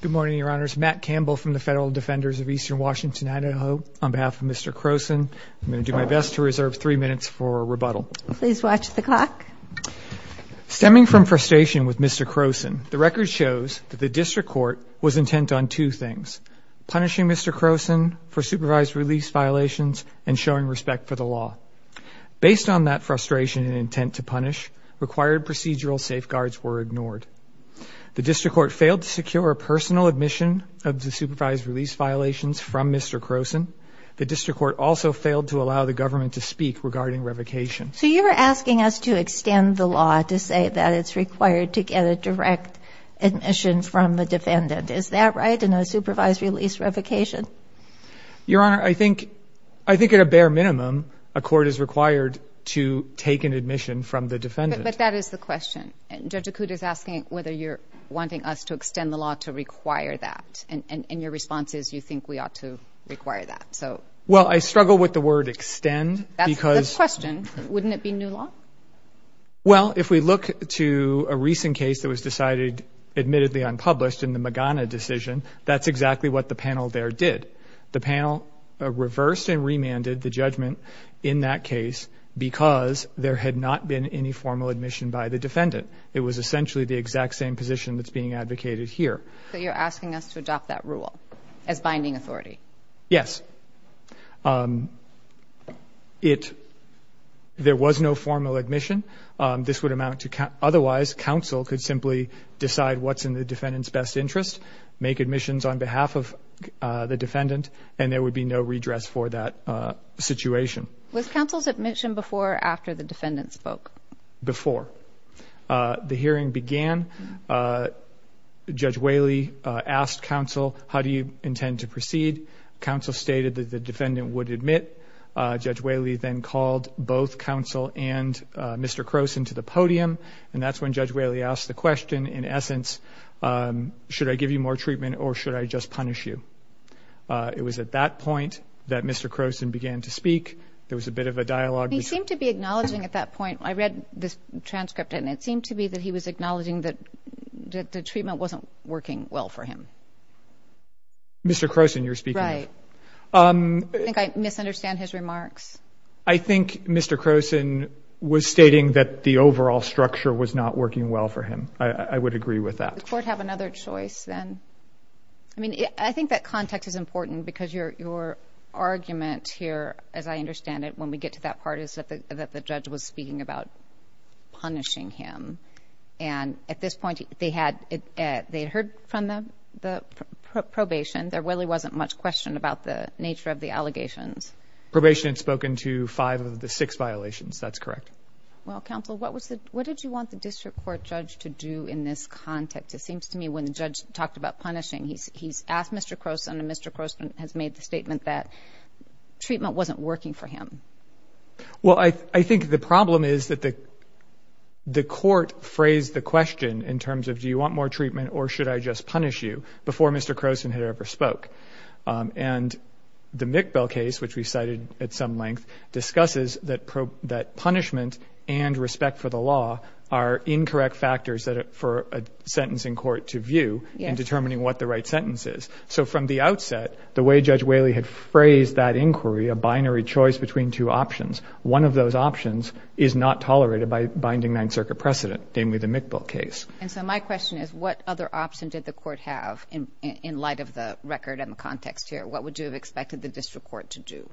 Good morning, Your Honors. Matt Campbell from the Federal Defenders of Eastern Washington, Idaho, on behalf of Mr. Croson. I'm going to do my best to reserve three minutes for rebuttal. Please watch the clock. Stemming from frustration with Mr. Croson, the record shows that the district court was intent on two things. Punishing Mr. Croson for supervised release violations and showing respect for the law. Based on that frustration and intent to punish, required procedural safeguards were ignored. The district court failed to secure a personal admission of the supervised release violations from Mr. Croson. The district court also failed to allow the government to speak regarding revocation. So you're asking us to extend the law to say that it's required to get a direct admission from the defendant. Is that right? In a supervised release revocation? Your Honor, I think at a bare minimum, a court is required to take an admission. That's a good question. And Judge Acuda is asking whether you're wanting us to extend the law to require that. And your response is you think we ought to require that. So... Well, I struggle with the word extend because... That's the question. Wouldn't it be new law? Well, if we look to a recent case that was decided admittedly unpublished in the Magana decision, that's exactly what the panel there did. The panel reversed and remanded the judgment in that case because there had not been any formal admission by the defendant. It was essentially the exact same position that's being advocated here. So you're asking us to adopt that rule as binding authority? Yes. It... There was no formal admission. This would amount to... Otherwise, counsel could simply decide what's in the defendant's best interest, make admissions on behalf of the defendant, and there would be no redress for that situation. Was counsel's admission before or after the defendant spoke? Before. The hearing began. Judge Whaley asked counsel, how do you intend to proceed? Counsel stated that the defendant would admit. Judge Whaley then called both counsel and Mr. Croson to the podium, and that's when Judge Whaley asked the question, in essence, should I give you more treatment or should I just punish you? It was at that point that Mr. Croson began to speak. There was a bit of a dialogue. He seemed to be acknowledging at that point. I read this transcript, and it seemed to be that he was acknowledging that the treatment wasn't working well for him. Mr. Croson you're speaking of. Right. I think I misunderstand his remarks. I think Mr. Croson was stating that the overall structure was not working well for him. I would agree with that. Does the court have another choice then? I mean, I think that context is important because your argument here, as I that part, is that the judge was speaking about punishing him. And at this point, they had heard from the probation. There really wasn't much question about the nature of the allegations. Probation had spoken to five of the six violations. That's correct. Well, counsel, what did you want the district court judge to do in this context? It seems to me when the judge talked about punishing, he's asked Mr. Croson, and Mr. Croson has made the Well, I think the problem is that the court phrased the question in terms of do you want more treatment or should I just punish you before Mr. Croson had ever spoke. And the Mickbell case, which we cited at some length, discusses that punishment and respect for the law are incorrect factors for a sentence in court to view in determining what the right sentence is. So from the outset, the way Judge Whaley had phrased that inquiry, a binary choice between two options, one of those options is not tolerated by binding Ninth Circuit precedent, namely the Mickbell case. And so my question is, what other option did the court have in light of the record and the context here? What would you have expected the district court to do?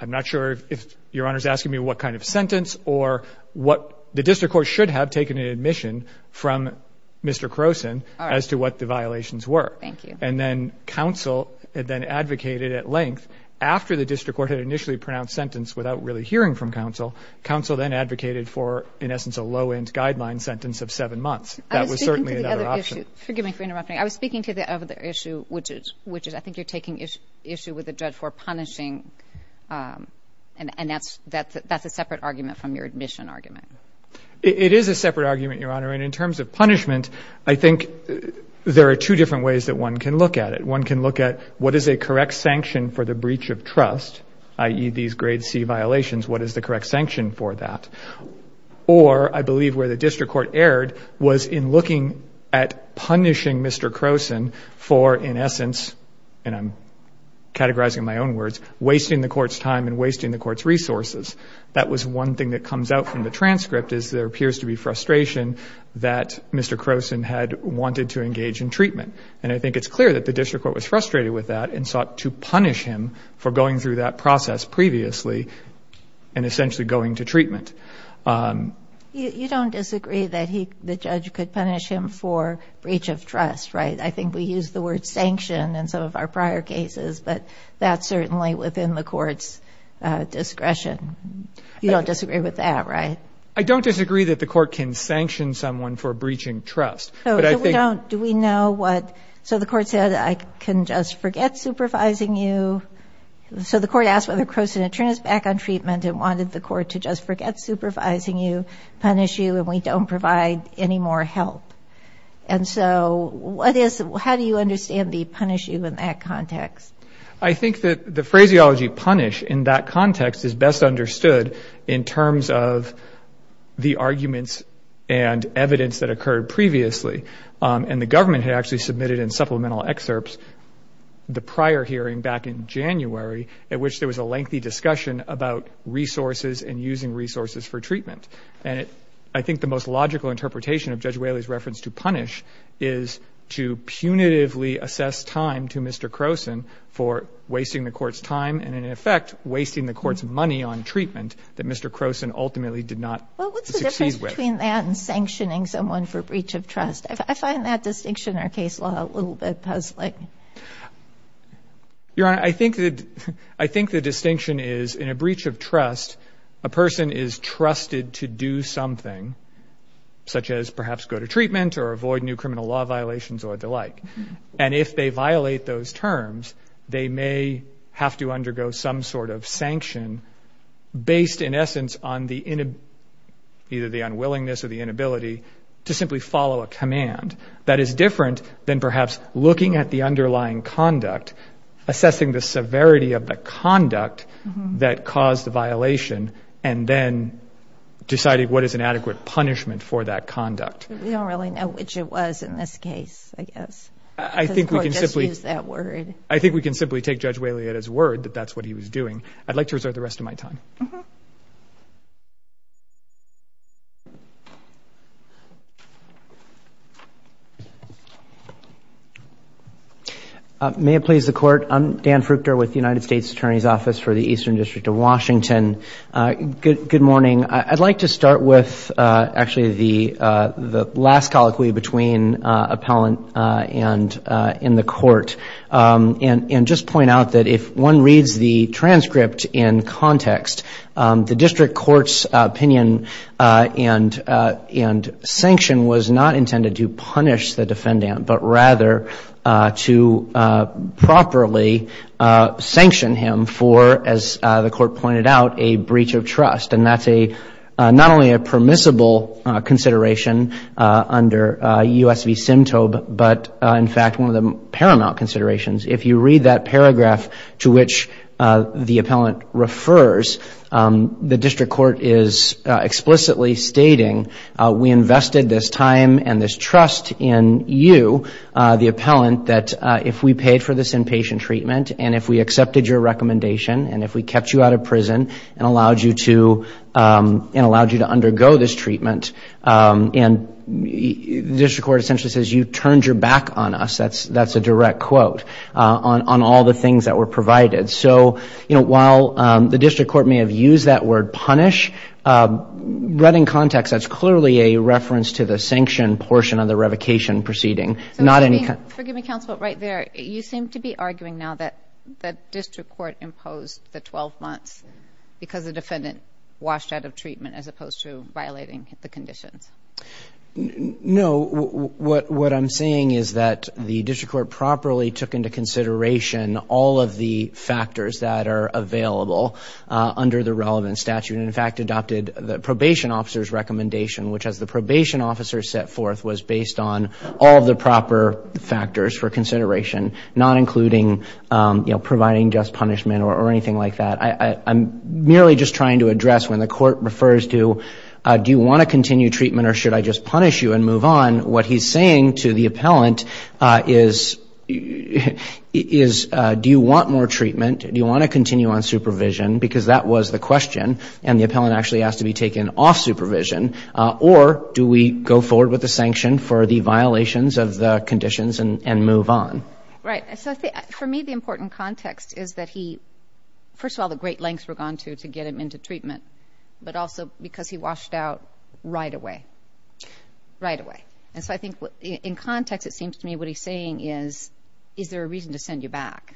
I'm not sure if Your Honor is asking me what kind of sentence or what the district court should have taken an admission from Mr. Croson as to what the violations were. Thank you. And then counsel then advocated at length after the district court had initially pronounced sentence without really hearing from counsel. Council then advocated for, in essence, a low-end guideline sentence of seven months. That was certainly another option. I was speaking to the other issue, which is I think you're taking issue with the judge for punishing. And that's a separate argument from your admission argument. It is a separate argument, Your Honor. And in terms of punishment, I think there are two different ways that one can look at it. One can look at what is a correct sanction for the breach of trust, i.e., these grade C violations, what is the correct sanction for that? Or I believe where the district court erred was in looking at punishing Mr. Croson for, in essence, and I'm categorizing my own words, wasting the court's time and wasting the court's resources. That was one thing that comes out from the transcript is there appears to be frustration that Mr. Croson had wanted to engage in treatment. And I think it's clear that the district court was frustrated with that and sought to punish him for going through that process previously and essentially going to treatment. You don't disagree that the judge could punish him for breach of trust, right? I think we use the word sanction in some of our prior cases, but that's certainly within the court's discretion. You don't disagree with that, right? I don't disagree that the court can sanction someone for breaching trust. So we don't, do we know what, so the court said I can just forget supervising you. So the court asked whether Croson had turned his back on treatment and wanted the court to just forget supervising you, punish you, and we don't provide any more help. And so what is, how do you understand the punish you in that context? I think that the phraseology punish in that context is best understood in terms of the arguments and evidence that occurred previously. And the government had actually submitted in supplemental excerpts the prior hearing back in January at which there was a lengthy discussion about resources and using resources for treatment. And it, I think the most logical interpretation of Judge Whaley's reference to punish is to punitively assess time to Mr. Croson for wasting the court's time and in effect wasting the court's money on something that the court ultimately did not succeed with. What's the difference between that and sanctioning someone for breach of trust? I find that distinction in our case law a little bit puzzling. Your Honor, I think that, I think the distinction is in a breach of trust, a person is trusted to do something such as perhaps go to treatment or avoid new criminal law violations or the like. And if they violate those terms, they may have to undergo some sort of sanction based in essence on the, either the unwillingness or the inability to simply follow a command. That is different than perhaps looking at the underlying conduct, assessing the severity of the conduct that caused the violation, and then deciding what is an adequate punishment for that conduct. We don't really know which it was in this case, I guess. I think we can simply... Just use that word. I think we can simply take Judge Wailiotta's word that that's what he was doing. I'd like to reserve the rest of my time. May it please the court. I'm Dan Fruchter with the United States Attorney's Office for the Eastern District of Washington. Good morning. I'd like to start with actually the last colloquy between appellant and in the court. And just point out that if one reads the transcript in context, the district court's opinion and sanction was not intended to punish the defendant, but rather to properly sanction him for, as the court pointed out, a breach of trust. And that's not only a permissible consideration under US v. Simtobe, but in fact, one of the paramount considerations. If you read that paragraph to which the appellant refers, the district court is explicitly stating, we invested this time and this trust in you, the appellant, that if we paid for this inpatient treatment, and if we accepted your recommendation, and if we kept you out of prison and allowed you to undergo this treatment, and the district court essentially says, you turned your back on us. That's a direct quote on all the things that were provided. So, you know, while the district court may have used that word punish, read in context, that's clearly a reference to the sanction portion of the revocation proceeding, not any kind of... So forgive me, counsel, but right there, you seem to be arguing now that district court imposed the 12 months because the defendant washed out of violating the conditions. No, what I'm saying is that the district court properly took into consideration all of the factors that are available under the relevant statute, and in fact, adopted the probation officer's recommendation, which as the probation officer set forth, was based on all the proper factors for consideration, not including, you know, providing just punishment or anything like that. I'm merely just trying to address when the court refers to, do you want to continue treatment or should I just punish you and move on, what he's saying to the appellant is, do you want more treatment? Do you want to continue on supervision? Because that was the question, and the appellant actually asked to be taken off supervision, or do we go forward with the sanction for the violations of the conditions and move on? Right. So for me, the important context is that he, first of all, the great lengths we've gone to to get him into treatment, but also because he washed out right away. Right away. And so I think in context, it seems to me what he's saying is, is there a reason to send you back?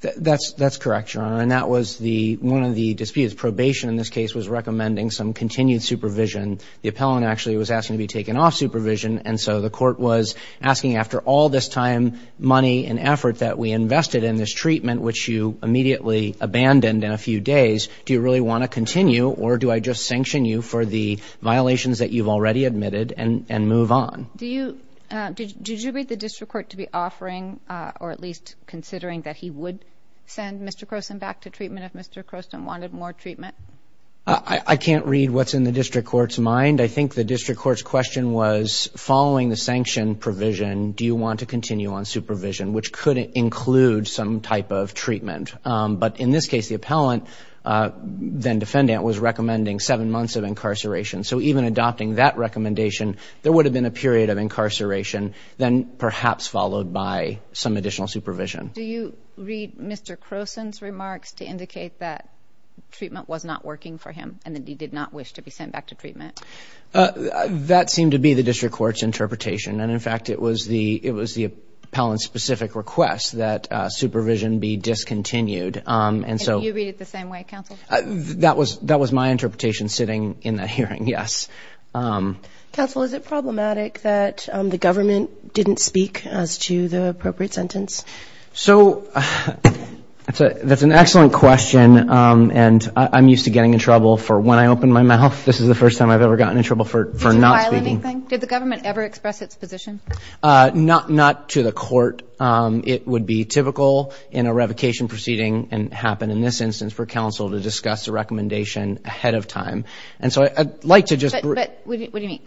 That's correct, Your Honor, and that was the one of the disputes. Probation in this case was recommending some continued supervision. The appellant actually was asking to be taken off supervision, and so the court was asking after all this time, money, and effort that we invested in this treatment, which you immediately abandoned in a few days, do you really want to continue or do I just sanction you for the violations that you've already admitted and move on? Did you read the district court to be offering, or at least considering that he would send Mr. Croson back to treatment if Mr. Croson wanted more treatment? I can't read what's in the district court's mind. I do read Mr. Croson's remarks to indicate that treatment was not working for him and that he did not wish to be sent back to treatment. That seemed to be the interpretation, and in fact, it was the appellant's specific request that supervision be discontinued. You read it the same way, counsel? That was my interpretation sitting in that hearing, yes. Counsel, is it problematic that the government didn't speak as to the appropriate sentence? That's an excellent question, and I'm used to getting in trouble for when I open my mouth. This is the first time I've ever gotten in trouble for not speaking. Did you file a revocation? Did the government ever express its position? Not to the court. It would be typical in a revocation proceeding and happen in this instance for counsel to discuss the recommendation ahead of time, and so I'd like to just... What do you mean?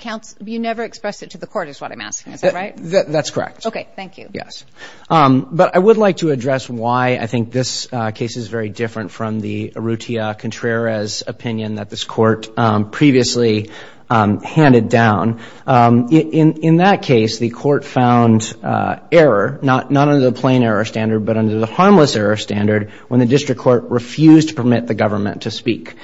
You never expressed it to the court is what I'm asking, is that right? That's correct. Okay, thank you. Yes, but I would like to address why I think this case is very different from the Arrutia-Contreras opinion that this court previously handed down. In that case, the court found error, not under the plain error standard, but under the harmless error standard when the district court refused to permit the government to speak.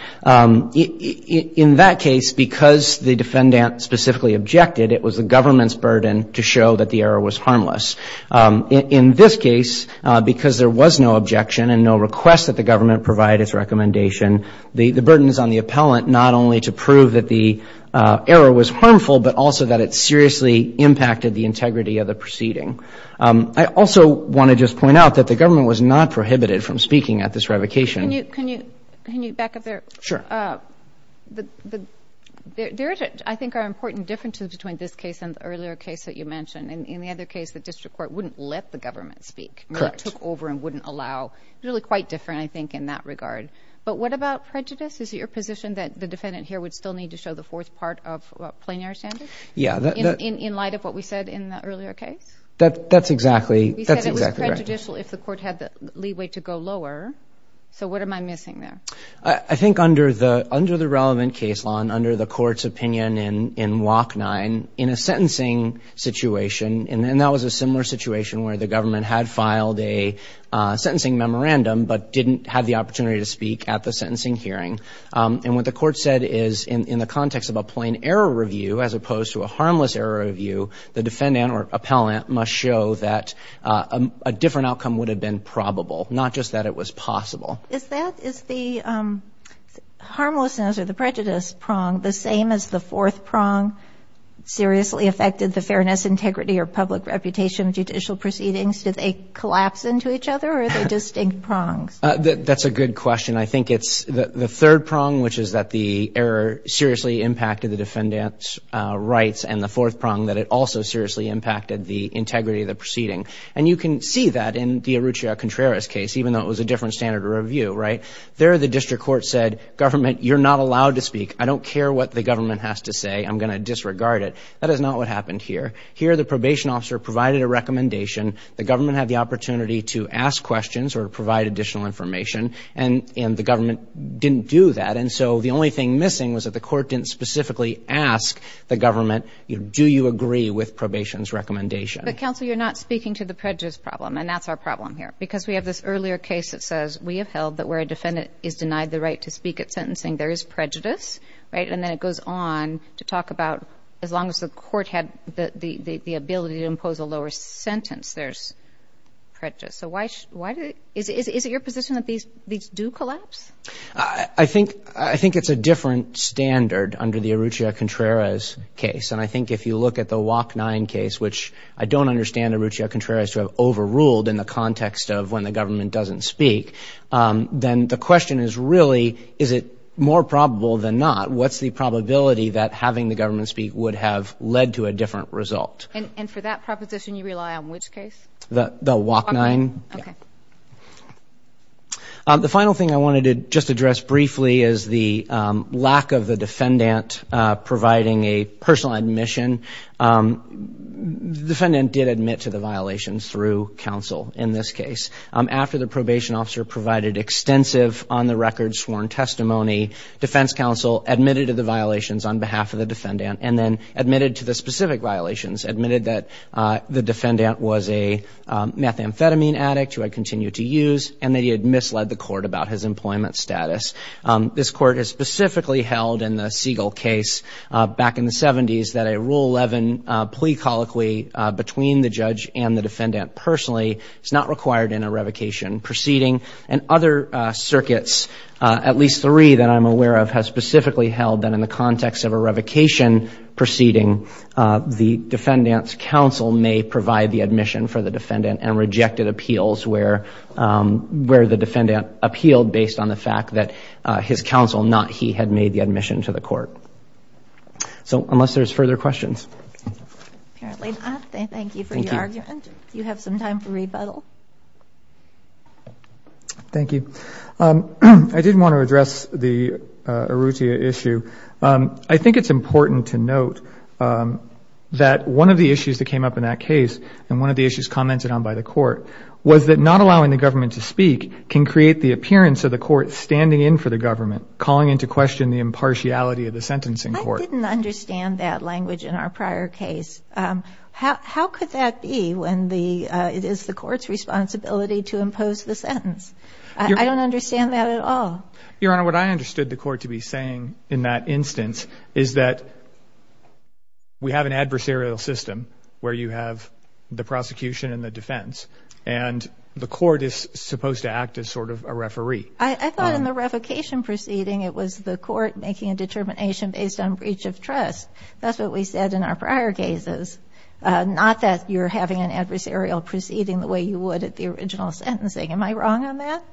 In that case, because the defendant specifically objected, it was the government's burden to show that the error was harmless. In this case, because there was no objection and no request that the government provide its recommendation, the burden is on the appellant not only to prove that the error was harmful, but also that it seriously impacted the integrity of the proceeding. I also want to just point out that the government was not prohibited from speaking at this revocation. Can you back up there? Sure. There, I think, are important differences between this case and the earlier case that you mentioned. In the other case, the district court wouldn't let the government speak. It took over and wouldn't allow. Really quite different, I think, in that regard. But what about prejudice? Is it your position that the defendant here would still need to show the fourth part of a plain error standard? Yeah. In light of what we said in the earlier case? That's exactly right. We said it was prejudicial if the court had the leeway to go lower. So what am I missing there? I think under the relevant case law and under the court's opinion in WOC 9, in a sentencing situation, and that was a similar situation where the government had filed a sentencing memorandum but didn't have the opportunity to speak at the sentencing hearing. And what the court said is in the context of a plain error review as opposed to a harmless error review, the defendant or appellant must show that a different outcome would have been probable, not just that it was possible. Is that, is the harmless or the prejudiced prong the same as the fourth prong seriously affected the fairness, integrity, or public reputation of judicial proceedings? Did they collapse into each other or are they distinct prongs? That's a good question. I think it's the third prong, which is that the error seriously impacted the defendant's rights, and the fourth prong that it also seriously impacted the integrity of the proceeding. And you can see that in the Arrutia Contreras case, even though it was a different standard of review, right? There, the district court said, government, you're not allowed to speak. I don't care what the government has to say. I'm going to disregard it. That is not what happened here. Here, the probation officer provided a recommendation. The government had the opportunity to ask questions or provide additional information, and the government didn't do that. And so the only thing missing was that the court didn't specifically ask the government, do you agree with probation's recommendation? But counsel, you're not speaking to the prejudice problem, and that's our problem here. Because we have this earlier case that says, we have held that where a defendant is denied the right to speak at sentencing, there is prejudice, right? And then it goes on to talk about, as long as the court had the ability to impose a lower sentence, there's prejudice. So why did it, is it your position that these do collapse? I think it's a different standard under the Arrutia Contreras case. And I think if you look at the WOC 9 case, which I don't understand Arrutia Contreras to have overruled in the context of when the government doesn't speak, then the question is really, is it more probable than not? What's the probability that having the government speak would have led to a different result? And for that proposition, you rely on which case? The WOC 9. The final thing I wanted to just address briefly is the lack of the admission. The defendant did admit to the violations through counsel in this case. After the probation officer provided extensive on-the-record sworn testimony, defense counsel admitted to the violations on behalf of the defendant and then admitted to the specific violations, admitted that the defendant was a methamphetamine addict who had continued to use and that he had misled the court about his employment status. This court has specifically held in the 1970s that a Rule 11 plea colloquy between the judge and the defendant personally is not required in a revocation proceeding. And other circuits, at least three that I'm aware of, has specifically held that in the context of a revocation proceeding, the defendant's counsel may provide the admission for the defendant and rejected appeals where the defendant appealed based on the fact that his counsel, not he, had made the admission to the court. So unless there's further questions. Thank you for your argument. You have some time for rebuttal. Thank you. I did want to address the Arrutia issue. I think it's important to note that one of the issues that came up in that case and one of the issues commented on by the court was that not allowing the government to speak can create the appearance of the court standing in for the government, calling into question the impartiality of the sentencing court. I didn't understand that language in our prior case. How could that be when it is the court's responsibility to impose the sentence? I don't understand that at all. Your Honor, what I understood the court to be saying in that instance is that we have an adversarial system where you have the prosecution and the defense and the court is supposed to act as sort of a referee. I thought in the revocation proceeding it was the court making a determination based on breach of trust. That's what we said in our prior cases, not that you're having an adversarial proceeding the way you would at the original sentencing. Am I wrong on that?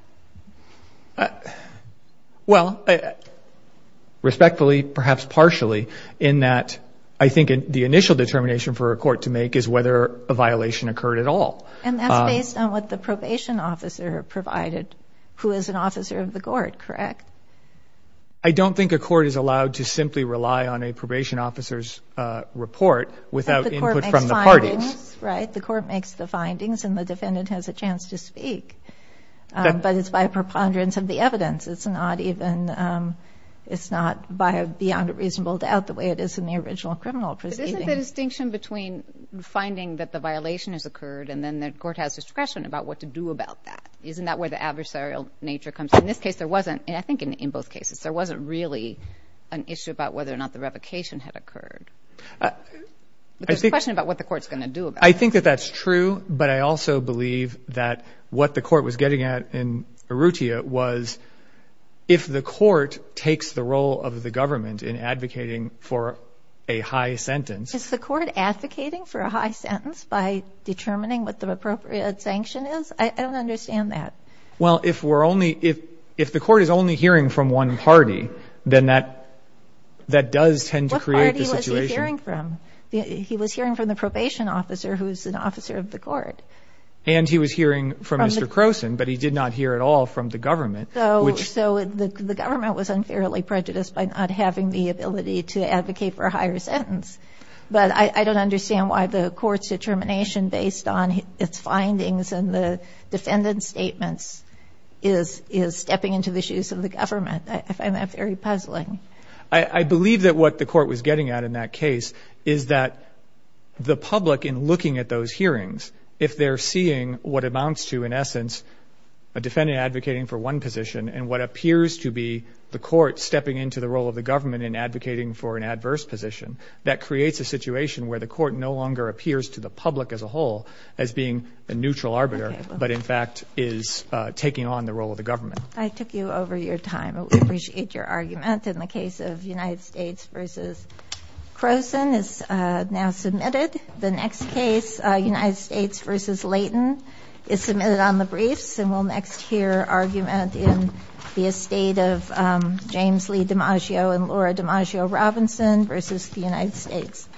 Well, respectfully, perhaps partially, in that I think the initial determination for a court to make is whether a violation occurred at all. And that's based on what the probation officer provided, who is an officer of the court, correct? I don't think a court is allowed to simply rely on a probation officer's report without input from the parties. Right, the court makes the findings and the defendant has a chance to speak. But it's by preponderance of the evidence. It's not even, it's not beyond a reasonable doubt the way it is in the original criminal proceeding. Isn't the distinction between finding that the violation has occurred and then the court has discretion about what to do about that, isn't that where the adversarial nature comes in? In this case there wasn't, and I think in both cases, there wasn't really an issue about whether or not the revocation had occurred. There's a question about what the court's going to do. I think that that's true, but I also believe that what the court was getting at in Arrutia was if the court takes the role of the government in advocating for a high sentence. Is the court advocating for a high sentence by determining what the appropriate sanction is? I don't understand that. Well if we're only, if the court is only hearing from one party then that does tend to create the situation. What party was he hearing from? He was hearing from the probation officer who's an officer of the court. And he was hearing from Mr. Croson, but he did not hear at all from the government. So the government was unfairly prejudiced by not having the ability to advocate for a higher sentence. But I don't understand why the court's determination based on its findings and the defendant's statements is stepping into the shoes of the government. I find that very puzzling. I believe that what the court was getting at in that case is that the public in looking at those hearings, if they're seeing what amounts to in essence a defendant advocating for one position and what appears to be the court stepping into the role of the government in advocating for an adverse position, that creates a situation where the court no longer appears to the but in fact is taking on the role of the government. I took you over your time. We appreciate your argument. In the case of United States versus Croson is now submitted. The next case United States versus Layton is submitted on the briefs and we'll next hear argument in the estate of James Lee DiMaggio and Laura DiMaggio Robinson versus the United States.